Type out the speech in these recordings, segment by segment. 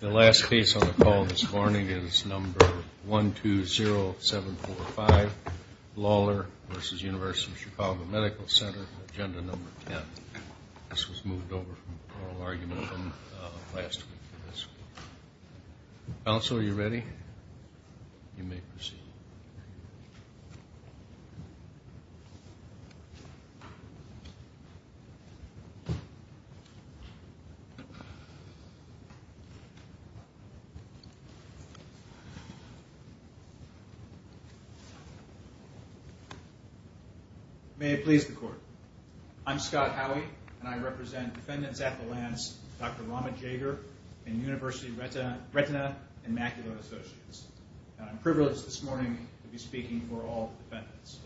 The last case on the call this morning is number 120745, Lawler v. University of Chicago Medical Center, agenda number 10. This was moved over from oral argument from last week. Counsel, are you ready? You may proceed. May it please the court. I'm Scott Howey, and I represent defendants at the Lance, Dr. Rama Jager and University Retina and Macular Associates. I'm privileged this morning to be speaking for all the defendants.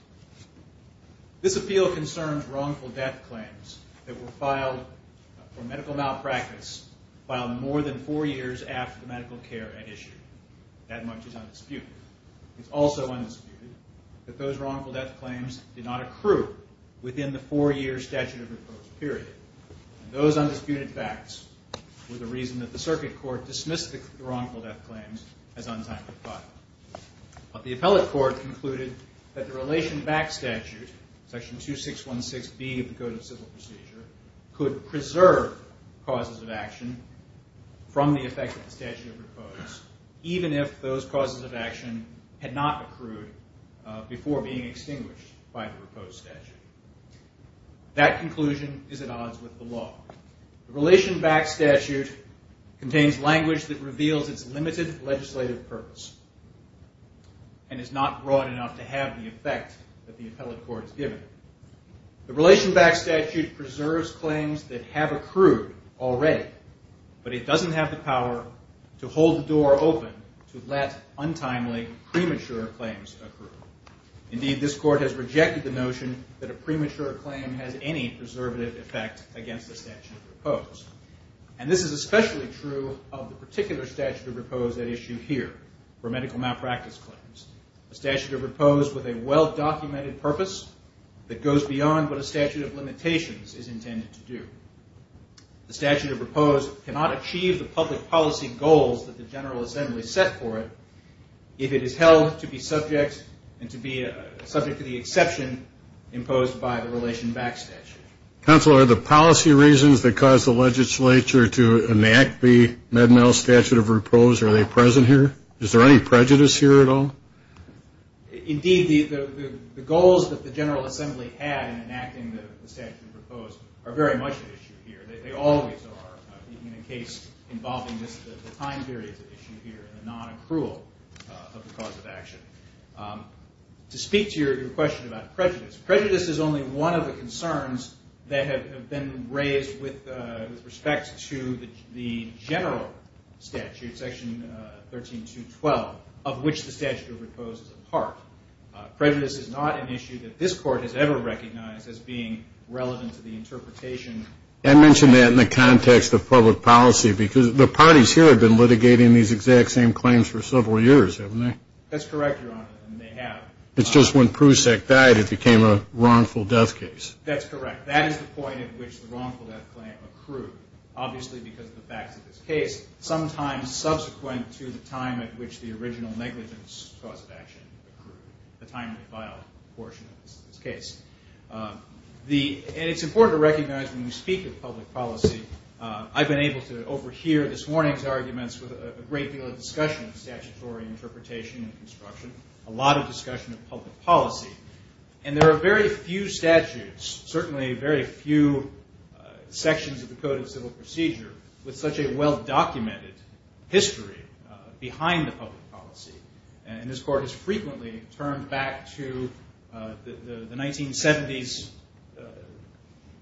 This appeal concerns wrongful death claims that were filed for medical malpractice filed more than four years after the medical care had issued. That much is undisputed. It's also undisputed that those wrongful death claims did not accrue within the four-year statute of approach period. Those undisputed facts were the reason that the circuit court dismissed the wrongful death claims as untimely filing. But the appellate court concluded that the relation-backed statute, section 2616B of the Code of Civil Procedure, could preserve causes of action from the effect of the statute of repose, even if those causes of action had not accrued before being extinguished by the repose statute. That conclusion is at odds with the law. The relation-backed statute contains language that reveals its limited legislative purpose and is not broad enough to have the effect that the appellate court has given. The relation-backed statute preserves claims that have accrued already, but it doesn't have the power to hold the door open to let untimely, premature claims accrue. Indeed, this court has rejected the notion that a premature claim has any preservative effect against the statute of repose. And this is especially true of the particular statute of repose at issue here for medical malpractice claims, a statute of repose with a well-documented purpose that goes beyond what a statute of limitations is intended to do. The statute of repose cannot achieve the public policy goals that the General Assembly set for it if it is held to be subject and to be subject to the exception imposed by the relation-backed statute. Counselor, are the policy reasons that caused the legislature to enact the Med-Mal statute of repose, are they present here? Is there any prejudice here at all? Indeed, the goals that the General Assembly had in enacting the statute of repose are very much at issue here. They always are, even in a case involving the time period at issue here and the non-accrual of the cause of action. To speak to your question about prejudice, prejudice is only one of the concerns that have been raised with respect to the general statute, section 13.2.12, of which the statute of repose is a part. Prejudice is not an issue that this court has ever recognized as being relevant to the interpretation. I mentioned that in the context of public policy because the parties here have been litigating these exact same claims for several years, haven't they? That's correct, Your Honor, and they have. It's just when Prusak died it became a wrongful death case. That's correct. That is the point at which the wrongful death claim accrued, obviously because of the facts of this case, sometimes subsequent to the time at which the original negligence cause of action accrued, the time to file portion of this case. It's important to recognize when we speak of public policy, I've been able to overhear this morning's arguments with a great deal of discussion of statutory interpretation and construction, a lot of discussion of public policy, and there are very few statutes, certainly very few sections of the Code of Civil Procedure with such a well-documented history behind the public policy. And this court has frequently turned back to the 1970s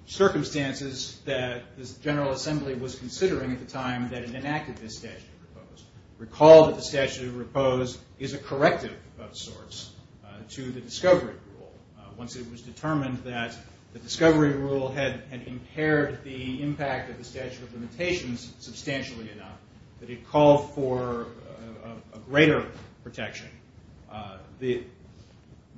circumstances that the General Assembly was considering at the time that it enacted this statute of repose. Recall that the statute of repose is a corrective of sorts to the discovery rule. Once it was determined that the discovery rule had impaired the impact of the statute of limitations substantially enough, that it called for a greater protection,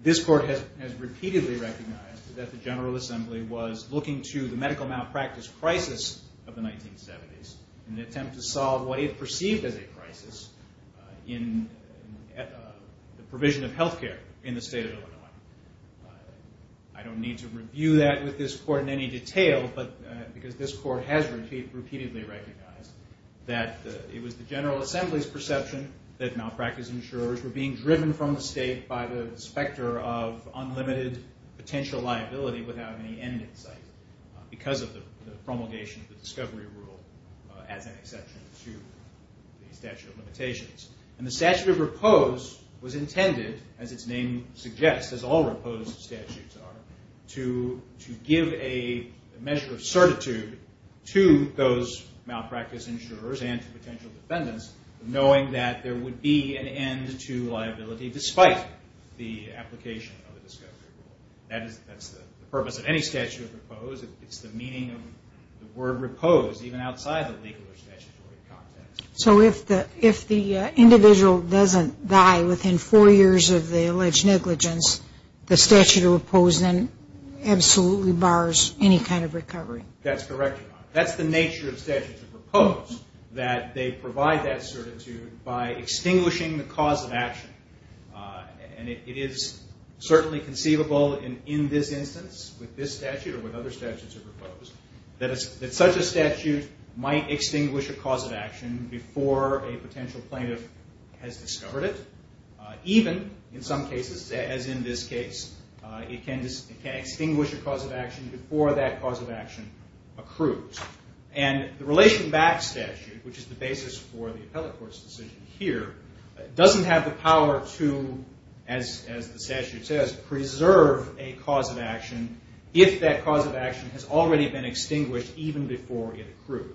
this court has repeatedly recognized that the General Assembly was looking to the medical malpractice crisis of the 1970s in an attempt to solve what it perceived as a crisis in the provision of health care in the state of Illinois. I don't need to review that with this court in any detail, but because this court has repeatedly recognized that it was the General Assembly's perception that malpractice insurers were being driven from the state by the specter of unlimited potential liability without any end in sight because of the promulgation of the discovery rule as an exception to the statute of limitations. And the statute of repose was intended, as its name suggests, as all repose statutes are, to give a measure of certitude to those malpractice insurers and potential defendants knowing that there would be an end to liability despite the application of the discovery rule. That's the purpose of any statute of repose. It's the meaning of the word repose even outside the legal or statutory context. So if the individual doesn't die within four years of the alleged negligence, the statute of repose then absolutely bars any kind of recovery? That's correct, Your Honor. That's the nature of statutes of repose, that they provide that certitude by extinguishing the cause of action. And it is certainly conceivable in this instance with this statute or with other statutes of repose that such a statute might extinguish a cause of action before a potential plaintiff has discovered it. Even in some cases, as in this case, it can extinguish a cause of action before that cause of action accrues. And the relation back statute, which is the basis for the appellate court's decision here, doesn't have the power to, as the statute says, preserve a cause of action if that cause of action has already been extinguished even before it accrued.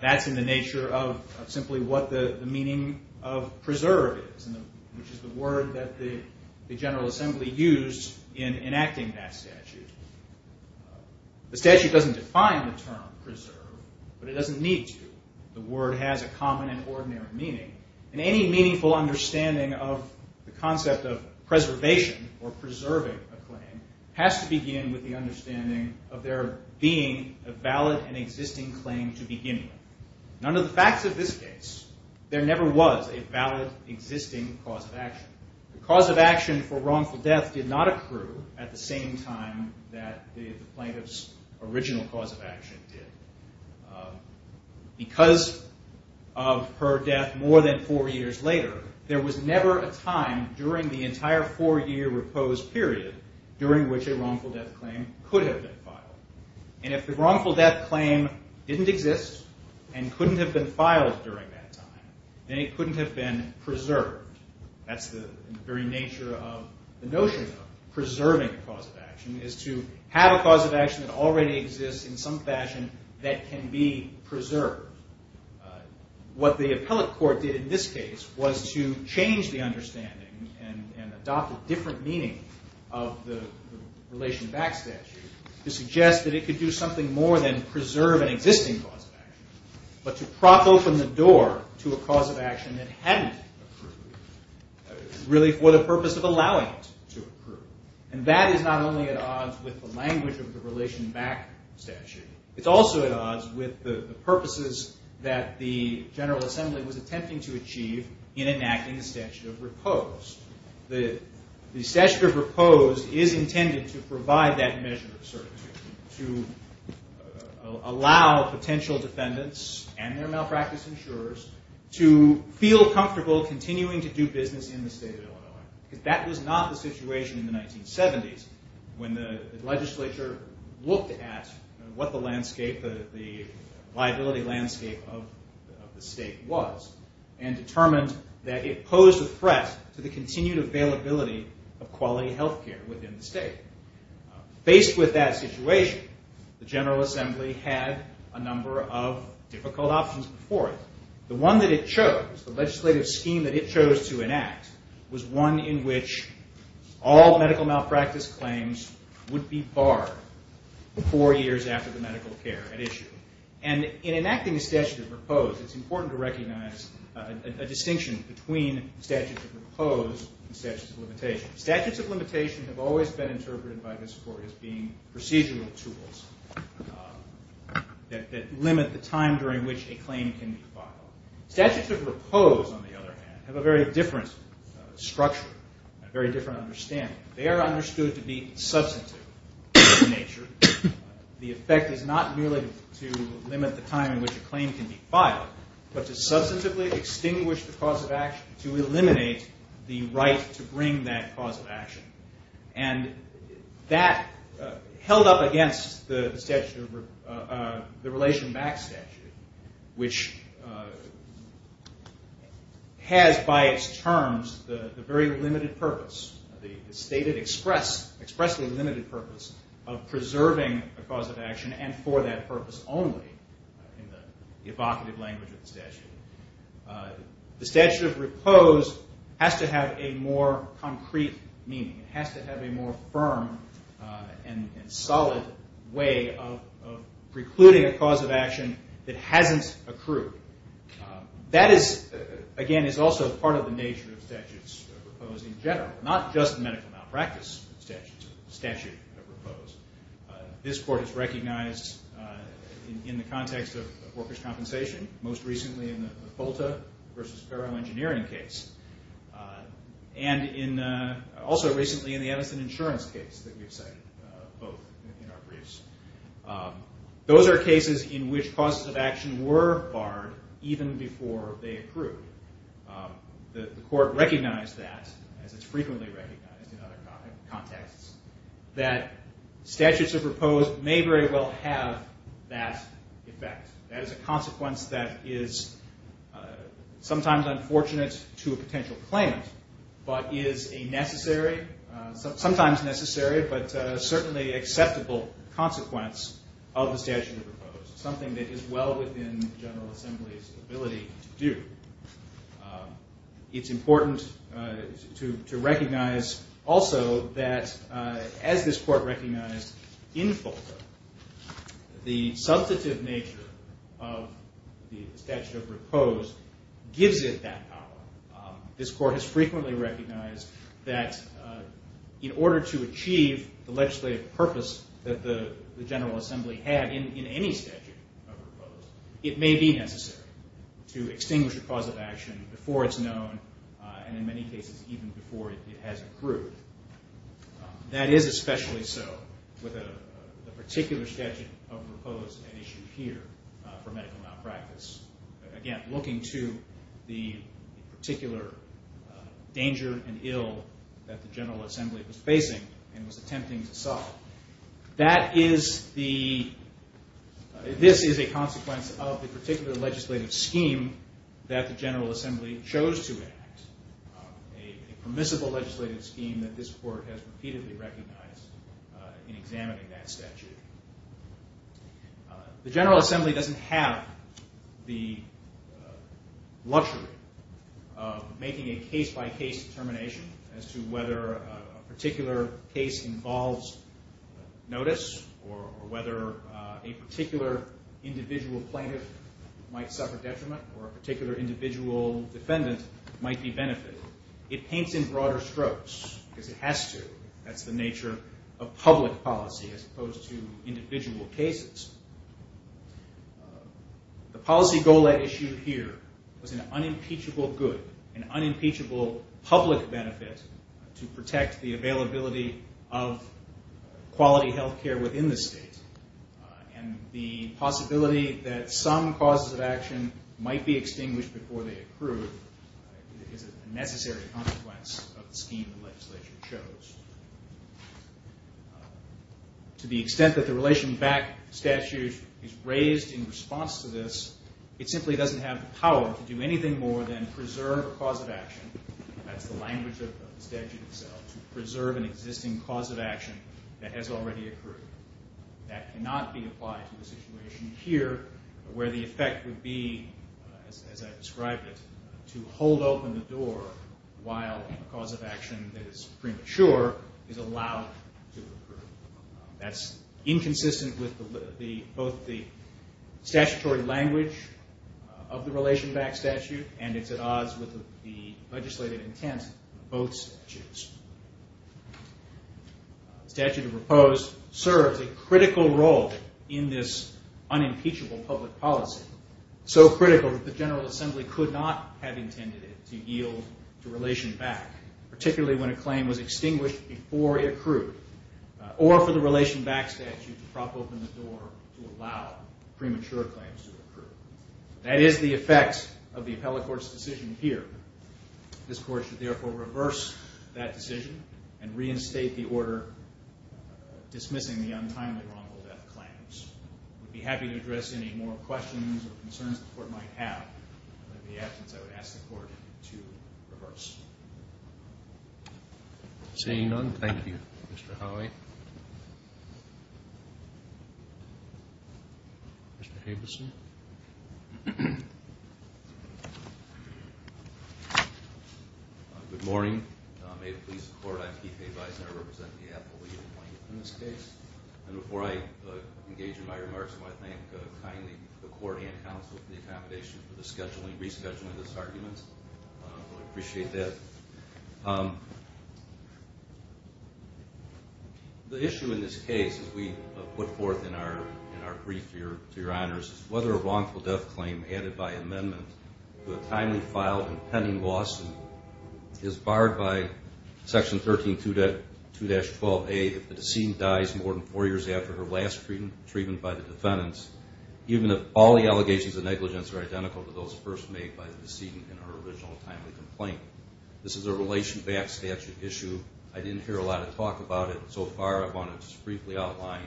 That's in the nature of simply what the meaning of preserve is, which is the word that the General Assembly used in enacting that statute. The statute doesn't define the term preserve, but it doesn't need to. The word has a common and ordinary meaning. And any meaningful understanding of the concept of preservation or preserving a claim has to begin with the understanding of there being a valid and existing claim to begin with. And under the facts of this case, there never was a valid existing cause of action. The cause of action for wrongful death did not accrue at the same time that the plaintiff's original cause of action did. Because of her death more than four years later, there was never a time during the entire four-year repose period during which a wrongful death claim could have been filed. And if the wrongful death claim didn't exist and couldn't have been filed during that time, then it couldn't have been preserved. That's the very nature of the notion of preserving a cause of action is to have a cause of action that already exists in some fashion that can be preserved. What the appellate court did in this case was to change the understanding and adopt a different meaning of the Relation Back statute to suggest that it could do something more than preserve an existing cause of action, but to prop open the door to a cause of action that hadn't accrued, really for the purpose of allowing it to accrue. And that is not only at odds with the language of the Relation Back statute. It's also at odds with the purposes that the General Assembly was attempting to achieve in enacting the statute of repose. The statute of repose is intended to provide that measure of certainty, to allow potential defendants and their malpractice insurers to feel comfortable continuing to do business in the state of Illinois. That was not the situation in the 1970s when the legislature looked at what the liability landscape of the state was and determined that it posed a threat to the continued availability of quality health care within the state. Faced with that situation, the General Assembly had a number of difficult options before it. The one that it chose, the legislative scheme that it chose to enact, was one in which all medical malpractice claims would be barred four years after the medical care had issued. And in enacting the statute of repose, it's important to recognize a distinction between the statute of repose and the statute of limitation. Statutes of repose, on the other hand, have a very different structure, a very different understanding. They are understood to be substantive in nature. The effect is not merely to limit the time in which a claim can be filed, but to substantively extinguish the cause of action to eliminate the right to bring that cause of action. And that held up against the relation back statute, which has by its terms the very limited purpose, the stated expressly limited purpose of preserving a cause of action and for that purpose only in the evocative language of the statute. The statute of repose has to have a more concrete meaning. It has to have a more firm and solid way of precluding a cause of action that hasn't accrued. That is, again, is also part of the nature of statutes of repose in general, not just medical malpractice statutes of repose. This court has recognized in the context of workers' compensation, most recently in the FOLTA versus Ferro engineering case, and also recently in the Edison insurance case that we've cited both in our briefs. Those are cases in which causes of action were barred even before they accrued. The court recognized that, as it's frequently recognized in other contexts, that statutes of repose may very well have that effect. That is a consequence that is sometimes unfortunate to a potential claimant, but is a necessary, sometimes necessary, but certainly acceptable consequence of the statute of repose. Something that is well within the General Assembly's ability to do. It's important to recognize also that, as this court recognized in FOLTA, the substantive nature of the statute of repose gives it that power. This court has frequently recognized that in order to achieve the legislative purpose that the General Assembly had in any statute of repose, it may be necessary to extinguish a cause of action before it's known and, in many cases, even before it has accrued. That is especially so with a particular statute of repose at issue here for medical malpractice. Again, looking to the particular danger and ill that the General Assembly was facing and was attempting to solve. This is a consequence of the particular legislative scheme that the General Assembly chose to enact, a permissible legislative scheme that this court has repeatedly recognized in examining that statute. The General Assembly doesn't have the luxury of making a case-by-case determination as to whether a particular case involves notice or whether a particular individual plaintiff might suffer detriment or a particular individual defendant might be benefited. It paints in broader strokes because it has to. That's the nature of public policy as opposed to individual cases. The policy goal at issue here was an unimpeachable good, an unimpeachable public benefit to protect the availability of quality health care within the state. The possibility that some causes of action might be extinguished before they accrue is a necessary consequence of the scheme the legislature chose. To the extent that the relation back statute is raised in response to this, it simply doesn't have the power to do anything more than preserve a cause of action. That's the language of the statute itself, to preserve an existing cause of action that has already accrued. That cannot be applied to the situation here where the effect would be, as I described it, to hold open the door while a cause of action that is premature is allowed to accrue. That's inconsistent with both the statutory language of the relation back statute and it's at odds with the legislative intent of both statutes. The statute proposed serves a critical role in this unimpeachable public policy, so critical that the General Assembly could not have intended it to yield to relation back, particularly when a claim was extinguished before it accrued, or for the relation back statute to prop open the door to allow premature claims to accrue. That is the effect of the appellate court's decision here. This court should therefore reverse that decision and reinstate the order dismissing the untimely wrongful death claims. I would be happy to address any more questions or concerns the court might have. In the absence, I would ask the court to reverse. Seeing none, thank you, Mr. Howey. Mr. Habeson. Good morning. May it please the court, I'm Keith Habeson. I represent the appellate in this case. And before I engage in my remarks, I want to thank kindly the court and counsel for the accommodation for the scheduling, rescheduling of this argument. I appreciate that. The issue in this case, as we put forth in our brief to your honors, is whether a wrongful death claim added by amendment to a timely filed and pending lawsuit is barred by Section 132-12A if the decedent dies more than four years after her last treatment by the defendants, even if all the allegations of negligence are identical to those first made by the decedent in her original timely complaint. This is a relation-backed statute issue. I didn't hear a lot of talk about it so far. I want to just briefly outline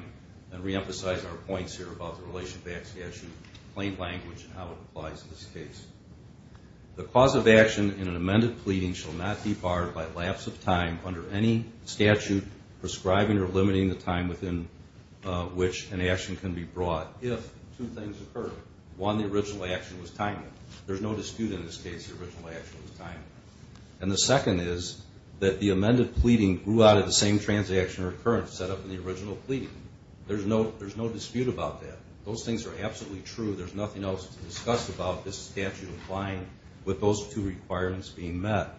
and reemphasize our points here about the relation-backed statute, plain language, and how it applies in this case. The cause of action in an amended pleading shall not be barred by lapse of time under any statute prescribing or limiting the time within which an action can be brought if two things occur. One, the original action was timely. There's no dispute in this case the original action was timely. And the second is that the amended pleading grew out of the same transaction or occurrence set up in the original pleading. There's no dispute about that. Those things are absolutely true. There's nothing else to discuss about this statute applying with those two requirements being met.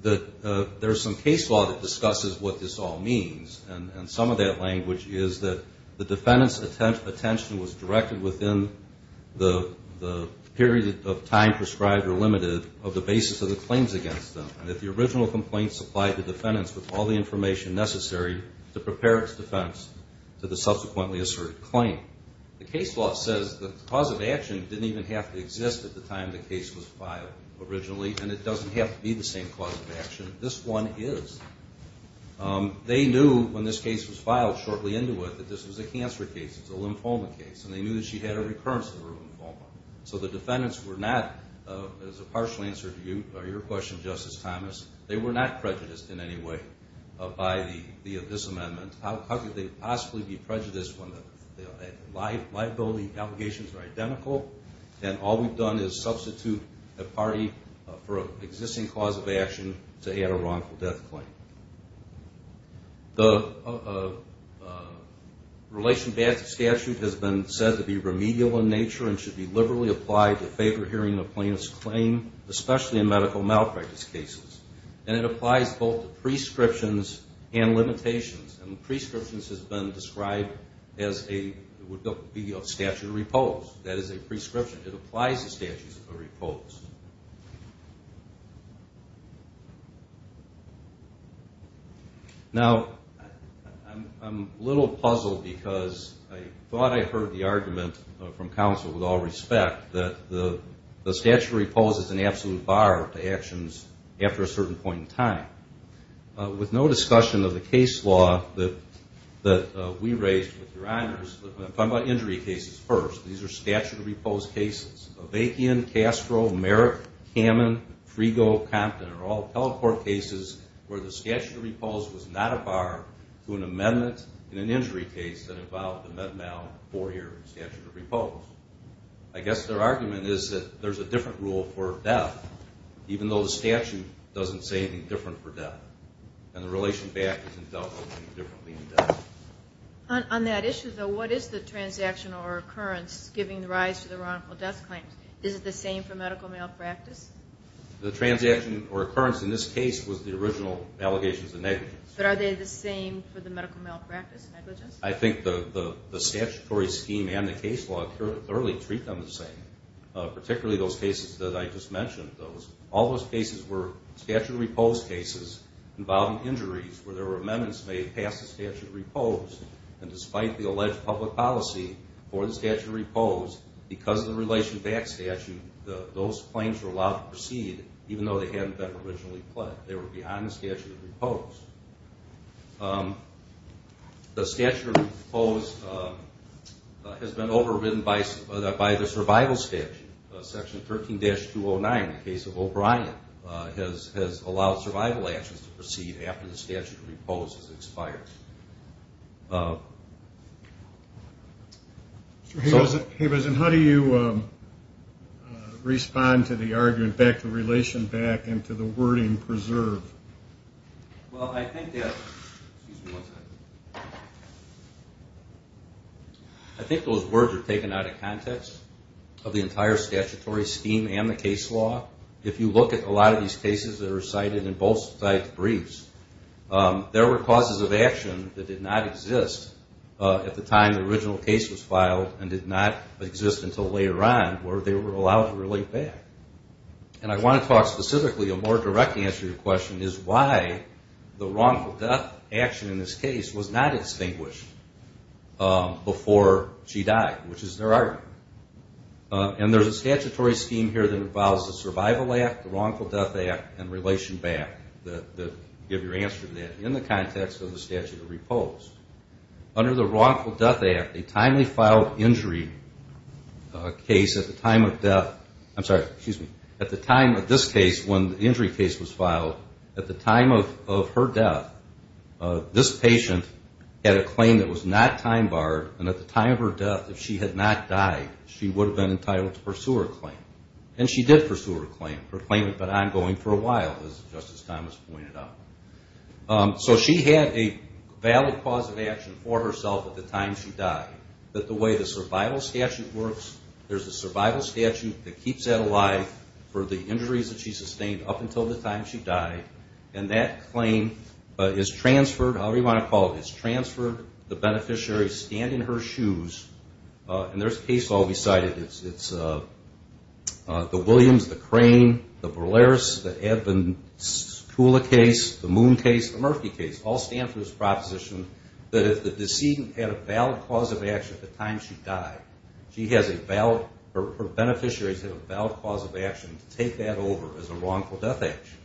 There's some case law that discusses what this all means. And some of that language is that the defendant's attention was directed within the period of time prescribed or limited of the basis of the claims against them. And that the original complaint supplied the defendants with all the information necessary to prepare its defense to the subsequently asserted claim. The case law says that the cause of action didn't even have to exist at the time the case was filed originally. And it doesn't have to be the same cause of action. This one is. They knew when this case was filed shortly into it that this was a cancer case. It's a lymphoma case. And they knew that she had a recurrence of her lymphoma. So the defendants were not, as a partial answer to your question, Justice Thomas, they were not prejudiced in any way by this amendment. How could they possibly be prejudiced when the liability allegations are identical? And all we've done is substitute a party for an existing cause of action to add a wrongful death claim. The relation to statute has been said to be remedial in nature and should be liberally applied to favor hearing a plaintiff's claim, especially in medical malpractice cases. And it applies both to prescriptions and limitations. And prescriptions has been described as a statute of repose. That is a prescription. It applies to statutes of repose. Now, I'm a little puzzled because I thought I heard the argument from counsel with all respect that the statute of repose is an absolute bar to actions after a certain point in time. With no discussion of the case law that we raised with your honors, I'm going to talk about injury cases first. These are statute of repose cases. Avakian, Castro, Merrick, Kamin, Frigo, Compton are all telecourt cases where the statute of repose was not a bar to an amendment in an injury case that involved a med mal 4-year statute of repose. I guess their argument is that there's a different rule for death, even though the statute doesn't say anything different for death. And the relation back isn't dealt with any differently in death. On that issue, though, what is the transaction or occurrence giving rise to the wrongful death claim? Is it the same for medical malpractice? The transaction or occurrence in this case was the original allegations of negligence. But are they the same for the medical malpractice negligence? I think the statutory scheme and the case law thoroughly treat them the same, particularly those cases that I just mentioned. All those cases were statute of repose cases involving injuries where there were amendments made past the statute of repose. And despite the alleged public policy for the statute of repose, because of the relation back statute, those claims were allowed to proceed, even though they hadn't been originally pled. They were behind the statute of repose. The statute of repose has been overridden by the survival statute. Section 13-209 in the case of O'Brien has allowed survival actions to proceed after the statute of repose has expired. Mr. Hibbersen, how do you respond to the argument back to relation back and to the wording preserve? Well, I think those words are taken out of context of the entire statutory scheme and the case law. If you look at a lot of these cases that are cited in both sides' briefs, there were causes of action that did not exist at the time the original case was filed and did not exist until later on where they were allowed to relate back. And I want to talk specifically, a more direct answer to your question, is why the wrongful death action in this case was not extinguished before she died, which is their argument. And there's a statutory scheme here that involves the survival act, the wrongful death act, and relation back to give your answer to that in the context of the statute of repose. Under the wrongful death act, a timely filed injury case at the time of death, I'm sorry, excuse me, at the time of this case when the injury case was filed, at the time of her death, this patient had a claim that was not time barred and at the time of her death if she had not died, she would have been entitled to pursue her claim. And she did pursue her claim, her claim had been ongoing for a while, as Justice Thomas pointed out. So she had a valid cause of action for herself at the time she died. But the way the survival statute works, there's a survival statute that keeps that alive for the injuries that she sustained up until the time she died. And that claim is transferred, however you want to call it, is transferred, the beneficiaries stand in her shoes. And there's case law beside it. It's the Williams, the Crane, the Bolares, the Edmunds-Kula case, the Moon case, the Murphy case, all stand for this proposition that if the decedent had a valid cause of action at the time she died, she has a valid, her beneficiaries have a valid cause of action to take that over as a wrongful death action.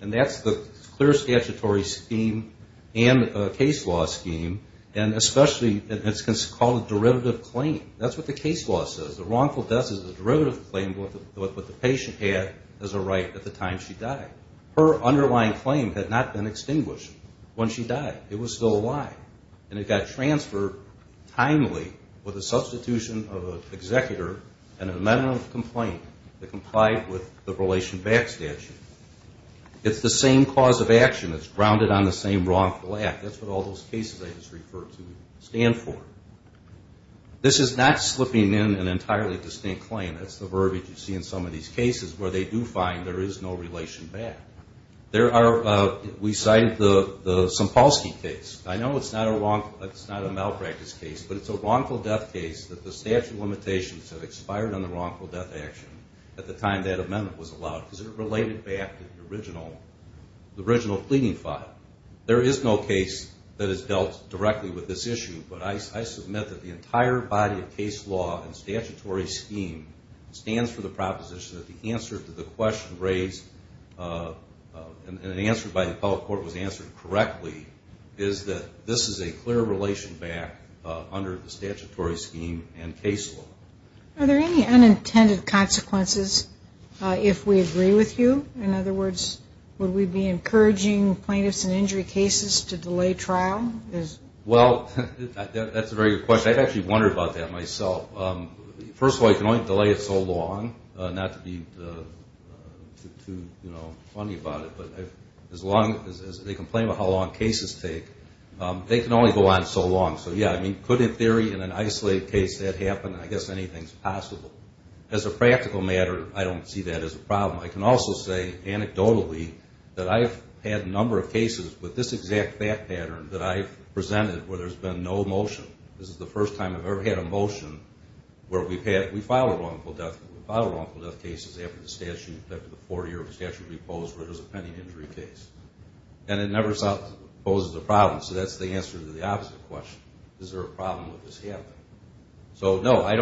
And that's the clear statutory scheme and case law scheme. And especially it's called a derivative claim. That's what the case law says. The wrongful death is a derivative claim with what the patient had as a right at the time she died. Her underlying claim had not been extinguished when she died. It was still alive. And it got transferred timely with a substitution of an executor and an amendment of complaint that complied with the relation back statute. It's the same cause of action. It's grounded on the same wrongful act. That's what all those cases I just referred to stand for. This is not slipping in an entirely distinct claim. That's the verbiage you see in some of these cases where they do find there is no relation back. There are, we cited the Sampolsky case. I know it's not a malpractice case, but it's a wrongful death case that the statute limitations have expired on the wrongful death action at the time that amendment was allowed because it related back to the original pleading file. There is no case that has dealt directly with this issue, but I submit that the entire body of case law and statutory scheme stands for the proposition that the answer to the question raised and an answer by the public court was answered correctly is that this is a clear relation back under the statutory scheme and case law. Are there any unintended consequences if we agree with you? In other words, would we be encouraging plaintiffs in injury cases to delay trial? Well, that's a very good question. I've actually wondered about that myself. First of all, you can only delay it so long, not to be too funny about it, but as long as they complain about how long cases take, they can only go on so long. So, yeah, I mean, could in theory in an isolated case that happen? I guess anything's possible. As a practical matter, I don't see that as a problem. I can also say anecdotally that I've had a number of cases with this exact fact pattern that I've presented where there's been no motion. This is the first time I've ever had a motion where we file a wrongful death. We file wrongful death cases after the statute, after the four-year statute reposed where there's a pending injury case. And it never poses a problem. So that's the answer to the opposite question. Is there a problem with this happening? So, no, I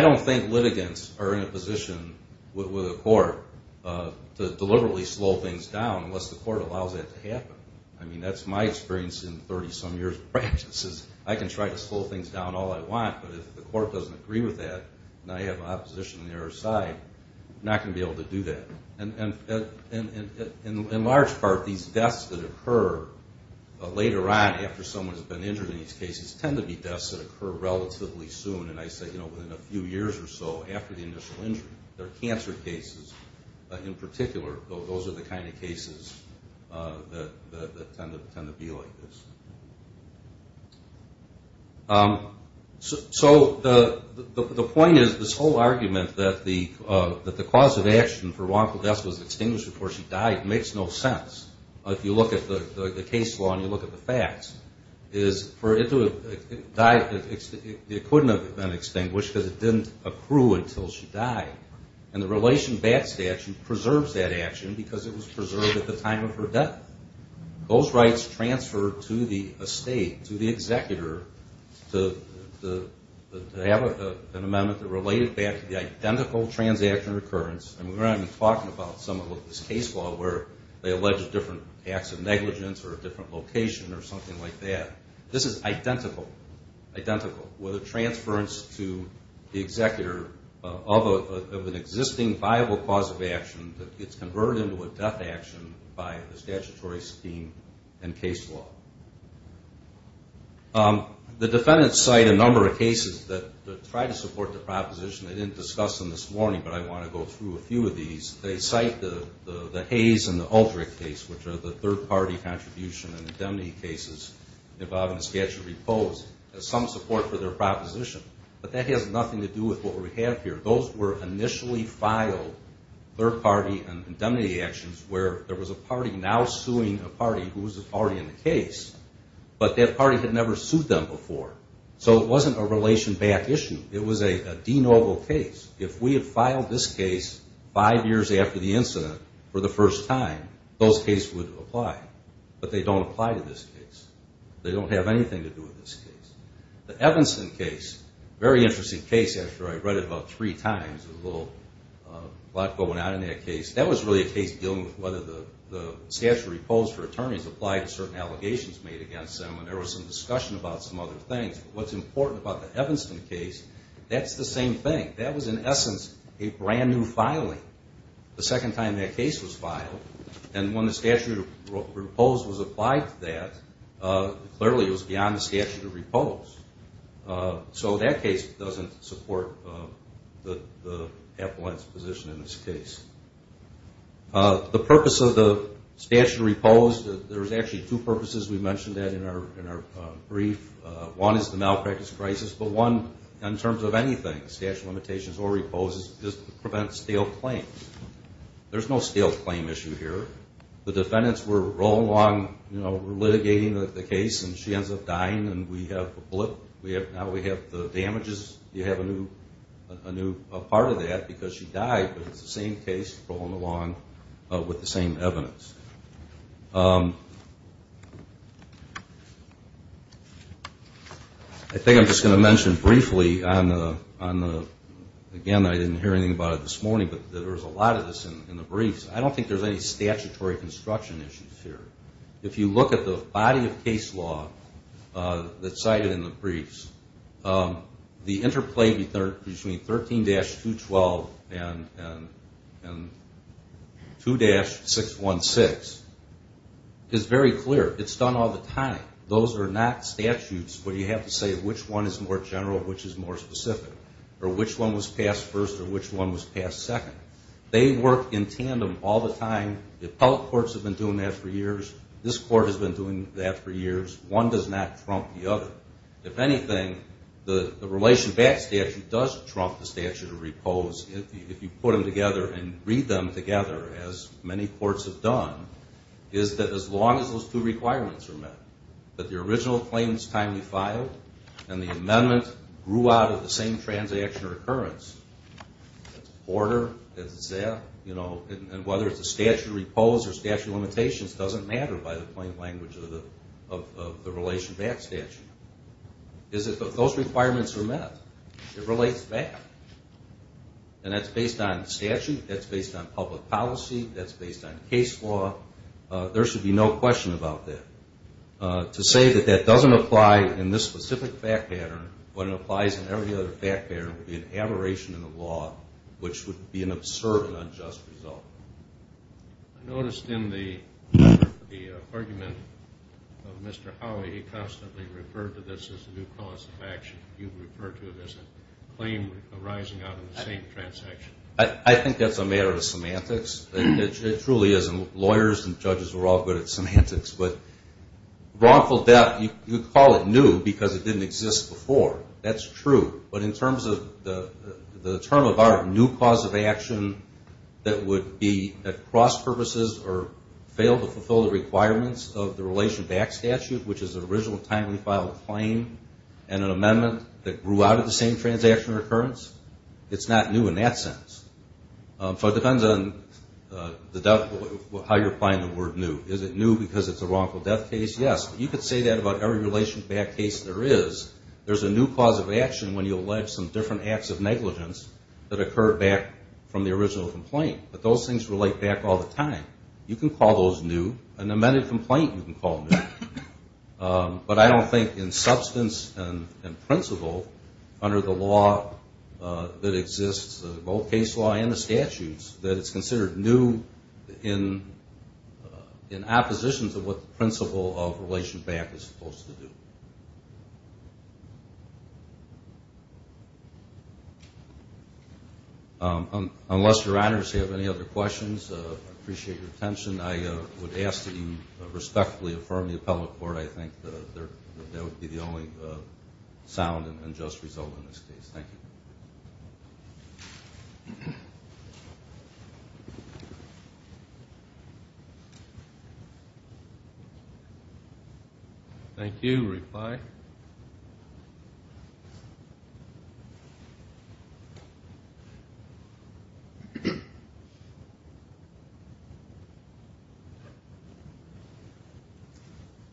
don't think litigants are in a position with the court to deliberately slow things down unless the court allows that to happen. I mean, that's my experience in 30-some years of practice is I can try to slow things down all I want, but if the court doesn't agree with that and I have opposition on the other side, I'm not going to be able to do that. And in large part, these deaths that occur later on after someone's been injured in these cases tend to be deaths that occur relatively soon, and I say, you know, within a few years or so after the initial injury. There are cancer cases in particular. Those are the kind of cases that tend to be like this. So the point is this whole argument that the cause of action for wrongful death was extinguished before she died makes no sense. If you look at the case law and you look at the facts, it couldn't have been extinguished because it didn't accrue until she died. And the relation back statute preserves that action because it was preserved at the time of her death. Those rights transferred to the estate, to the executor, to have an amendment that related back to the identical transaction or occurrence, and we're not even talking about some of this case law where they allege different acts of negligence or a different location or something like that. This is identical with a transference to the executor of an existing viable cause of action that gets converted into a death action by the statutory scheme and case law. The defendants cite a number of cases that try to support the proposition. I didn't discuss them this morning, but I want to go through a few of these. They cite the Hayes and the Aldrich case, which are the third-party contribution and indemnity cases involving a statutory pose as some support for their proposition. But that has nothing to do with what we have here. Those were initially filed third-party indemnity actions where there was a party now suing a party who was already in the case, but that party had never sued them before. So it wasn't a relation back issue. It was a de novo case. If we had filed this case five years after the incident for the first time, those cases would have applied. But they don't apply to this case. They don't have anything to do with this case. The Evanston case, a very interesting case, actually. I read it about three times. There's a little plot going on in that case. That was really a case dealing with whether the statutory pose for attorneys applied to certain allegations made against them, and there was some discussion about some other things. But what's important about the Evanston case, that's the same thing. That was, in essence, a brand-new filing the second time that case was filed. And when the statutory pose was applied to that, clearly it was beyond the statutory pose. So that case doesn't support the appellant's position in this case. The purpose of the statutory pose, there's actually two purposes. We mentioned that in our brief. One is the malpractice crisis, but one, in terms of anything, statutory limitations or repose, is to prevent stale claims. There's no stale claim issue here. The defendants were rolling along litigating the case, and she ends up dying, and we have the blip. Now we have the damages. You have a new part of that because she died, but it's the same case rolling along with the same evidence. I think I'm just going to mention briefly on the, again, I didn't hear anything about it this morning, but there was a lot of this in the briefs. I don't think there's any statutory construction issues here. If you look at the body of case law that's cited in the briefs, the interplay between 13-212 and 2-616 is very clear. It's done all the time. Those are not statutes where you have to say which one is more general, which is more specific, or which one was passed first or which one was passed second. They work in tandem all the time. The appellate courts have been doing that for years. This court has been doing that for years. One does not trump the other. If anything, the relation back statute does trump the statute of repose if you put them together and read them together, as many courts have done, is that as long as those two requirements are met, that the original claims time you filed and the amendment grew out of the same transaction or occurrence, that's order, that's that, and whether it's a statute of repose or statute of limitations doesn't matter by the plain language of the relation back statute, is that those requirements are met. It relates back. And that's based on statute. That's based on public policy. That's based on case law. There should be no question about that. To say that that doesn't apply in this specific fact pattern when it applies in every other fact pattern would be an aberration in the law, which would be an absurd and unjust result. I noticed in the argument of Mr. Howey, he constantly referred to this as a new cause of action. You refer to it as a claim arising out of the same transaction. I think that's a matter of semantics. It truly is, and lawyers and judges are all good at semantics. But wrongful death, you call it new because it didn't exist before. That's true. But in terms of the term of our new cause of action that would be at cross purposes or fail to fulfill the requirements of the relation back statute, which is the original timely filed claim and an amendment that grew out of the same transaction or occurrence, it's not new in that sense. So it depends on how you're applying the word new. Is it new because it's a wrongful death case? Yes. You could say that about every relation back case there is. There's a new cause of action when you allege some different acts of negligence that occur back from the original complaint. But those things relate back all the time. You can call those new. An amended complaint you can call new. But I don't think in substance and principle under the law that exists, both case law and the statutes, that it's considered new in opposition to what the principle of relation back is supposed to do. Unless your honors have any other questions, I appreciate your attention. I would ask that you respectfully affirm the appellate court. I think that would be the only sound and just result in this case. Thank you. Thank you. Thank you. Reply.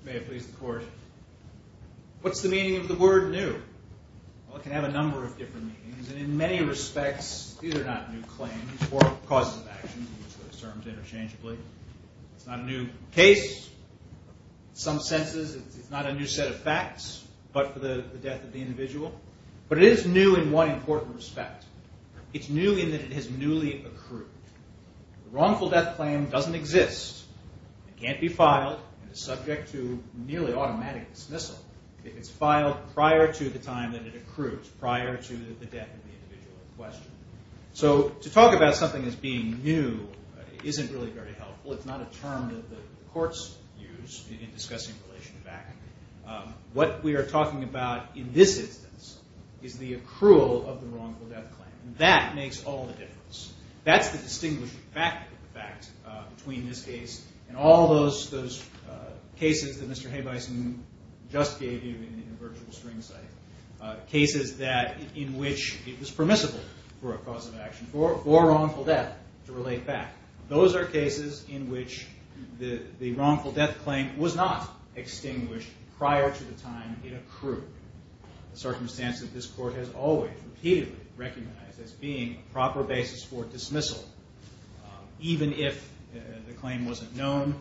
May it please the court. What's the meaning of the word new? Well, it can have a number of different meanings. And in many respects, these are not new claims or causes of action, which are termed interchangeably. It's not a new case. In some senses, it's not a new set of facts but for the death of the individual. But it is new in one important respect. It's new in that it has newly accrued. The wrongful death claim doesn't exist. It can't be filed and is subject to nearly automatic dismissal. It's filed prior to the time that it accrues, prior to the death of the individual in question. So to talk about something as being new isn't really very helpful. It's not a term that the courts use in discussing relation back. What we are talking about in this instance is the accrual of the wrongful death claim. That makes all the difference. That's the distinguishing fact between this case and all those cases that Mr. Haybison just gave you in the virtual spring site, cases in which it was permissible for a cause of action, for wrongful death to relate back. Those are cases in which the wrongful death claim was not extinguished prior to the time it accrued, a circumstance that this court has always repeatedly recognized as being a proper basis for dismissal, even if the claim wasn't known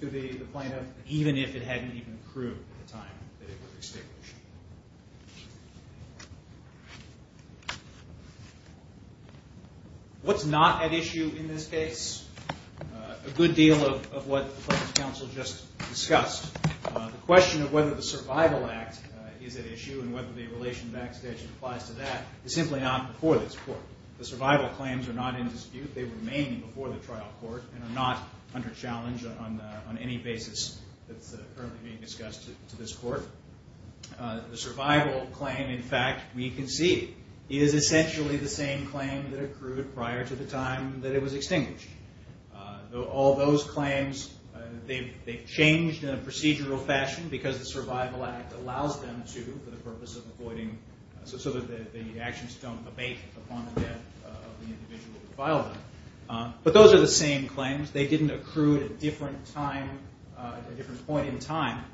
to the plaintiff, even if it hadn't even accrued at the time that it was extinguished. What's not at issue in this case? A good deal of what the plaintiff's counsel just discussed. The question of whether the Survival Act is at issue and whether the relation back statute applies to that is simply not before this court. The survival claims are not in dispute. They remain before the trial court and are not under challenge on any basis that's currently being discussed to this court. The survival claim, in fact, we can see is essentially the same claim that accrued prior to the time that it was extinguished. All those claims, they've changed in a procedural fashion because the Survival Act allows them to for the purpose of avoiding, so that the actions don't abate upon the death of the individual who filed them. But those are the same claims. They didn't accrue at a different point in time.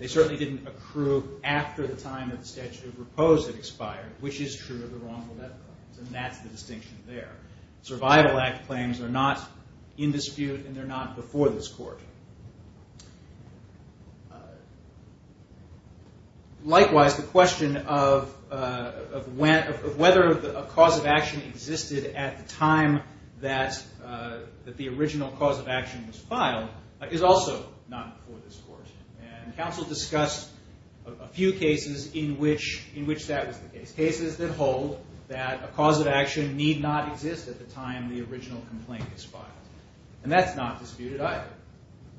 They certainly didn't accrue after the time that the statute of repose had expired, which is true of the wrongful death claims, and that's the distinction there. Survival Act claims are not in dispute and they're not before this court. Likewise, the question of whether a cause of action existed at the time that the original cause of action was filed is also not before this court. And counsel discussed a few cases in which that was the case. Cases that hold that a cause of action need not exist at the time the original complaint was filed. And that's not disputed either.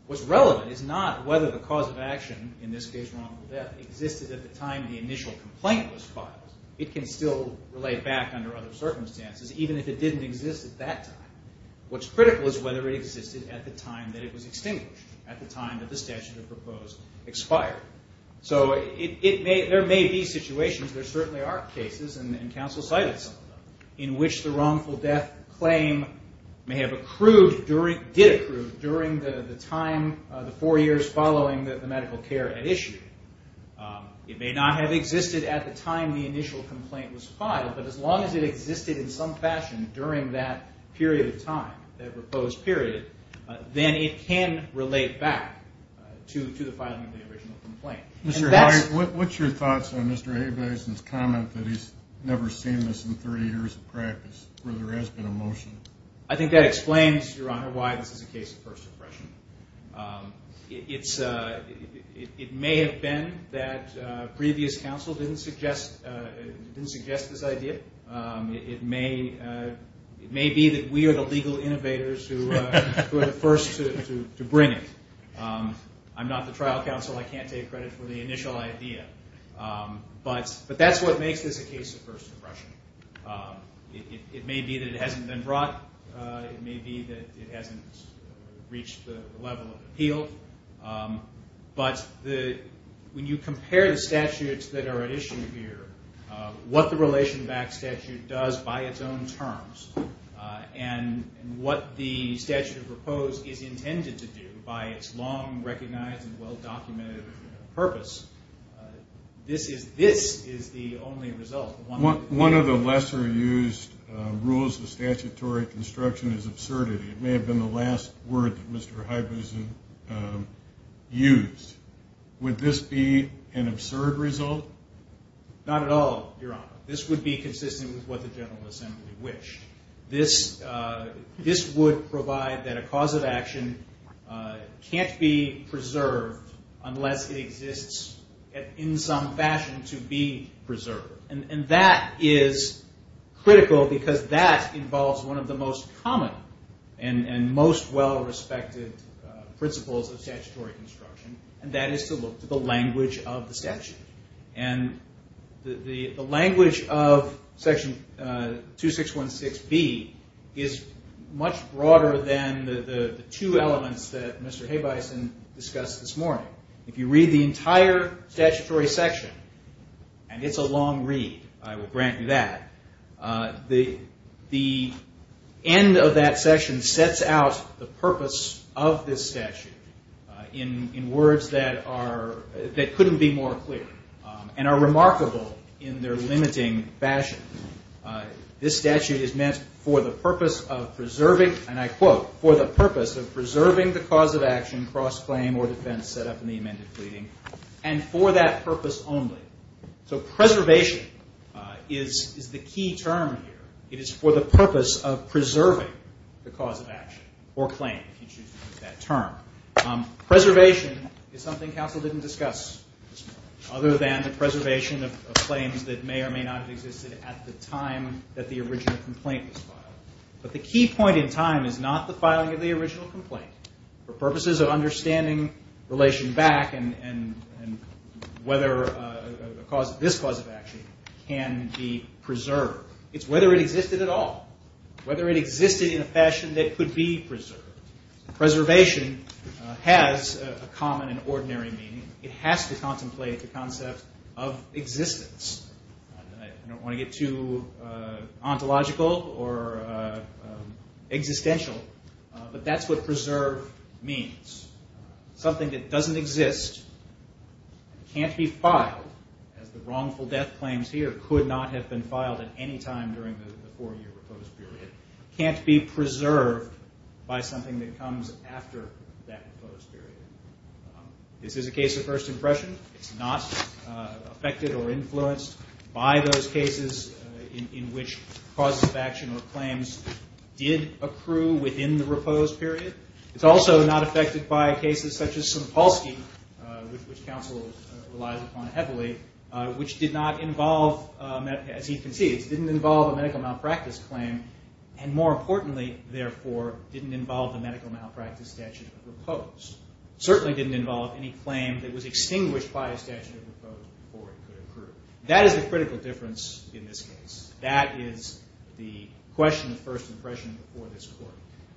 What's relevant is not whether the cause of action, in this case wrongful death, existed at the time the initial complaint was filed. It can still relate back under other circumstances, even if it didn't exist at that time. What's critical is whether it existed at the time that it was extinguished, at the time that the statute of repose expired. So there may be situations, there certainly are cases, and counsel cited some of them, in which the wrongful death claim may have accrued, did accrue, during the four years following the medical care at issue. It may not have existed at the time the initial complaint was filed, but as long as it existed in some fashion during that period of time, that repose period, then it can relate back to the filing of the original complaint. Mr. Howard, what's your thoughts on Mr. Habes' comment that he's never seen this in 30 years of practice, where there has been a motion? I think that explains, Your Honor, why this is a case of first impression. It may have been that previous counsel didn't suggest this idea. It may be that we are the legal innovators who are the first to bring it. I'm not the trial counsel. I can't take credit for the initial idea. But that's what makes this a case of first impression. It may be that it hasn't been brought. It may be that it hasn't reached the level of appeal. But when you compare the statutes that are at issue here, what the relation back statute does by its own terms, and what the statute of repose is intended to do by its long recognized and well documented purpose, this is the only result. One of the lesser used rules of statutory construction is absurdity. It may have been the last word that Mr. Habes used. Would this be an absurd result? Not at all, Your Honor. This would be consistent with what the General Assembly wished. This would provide that a cause of action can't be preserved unless it exists in some fashion to be preserved. And that is critical because that involves one of the most common and most well respected principles of statutory construction. And that is to look to the language of the statute. And the language of Section 2616B is much broader than the two elements that Mr. Habeisen discussed this morning. If you read the entire statutory section, and it's a long read, I will grant you that, the end of that section sets out the purpose of this statute in words that couldn't be more clear, and are remarkable in their limiting fashion. This statute is meant for the purpose of preserving, and I quote, for the purpose of preserving the cause of action, cross-claim, or defense set up in the amended pleading, and for that purpose only. So preservation is the key term here. It is for the purpose of preserving the cause of action, or claim, if you choose to use that term. Preservation is something counsel didn't discuss this morning, other than the preservation of claims that may or may not have existed at the time that the original complaint was filed. But the key point in time is not the filing of the original complaint. For purposes of understanding relation back and whether this cause of action can be preserved, it's whether it existed at all, whether it existed in a fashion that could be preserved. Preservation has a common and ordinary meaning. It has to contemplate the concept of existence. I don't want to get too ontological or existential, but that's what preserve means. Something that doesn't exist, can't be filed, as the wrongful death claims here could not have been filed at any time during the four-year repose period, can't be preserved by something that comes after that repose period. This is a case of first impression. It's not affected or influenced by those cases in which causes of action or claims did accrue within the repose period. It's also not affected by cases such as Simpolski, which counsel relies upon heavily, which did not involve, as he concedes, didn't involve a medical malpractice claim, and more importantly, therefore, didn't involve a medical malpractice statute of repose. It certainly didn't involve any claim that was extinguished by a statute of repose before it could accrue. That is the critical difference in this case. That is the question of first impression for this court.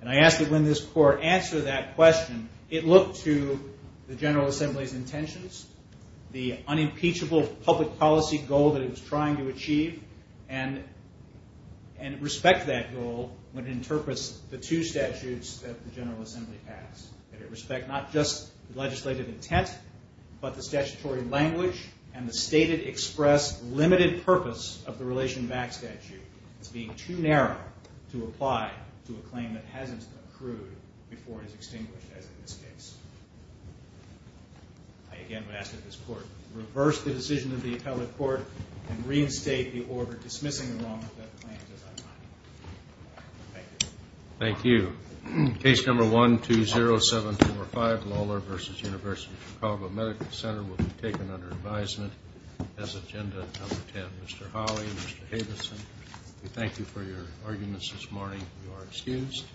I ask that when this court answers that question, it look to the General Assembly's intentions, the unimpeachable public policy goal that it was trying to achieve, and respect that goal when it interprets the two statutes that the General Assembly passed. That it respect not just legislative intent, but the statutory language and the stated express limited purpose of the relation back statute. It's being too narrow to apply to a claim that hasn't accrued before it is extinguished, as in this case. I again would ask that this court reverse the decision of the appellate court and reinstate the order dismissing the wrongful death claims as I find them. Thank you. Thank you. Case number 120725, Lawler v. University of Chicago Medical Center, will be taken under advisement as agenda number 10. Mr. Hawley, Mr. Havison, we thank you for your arguments this morning. You are excused.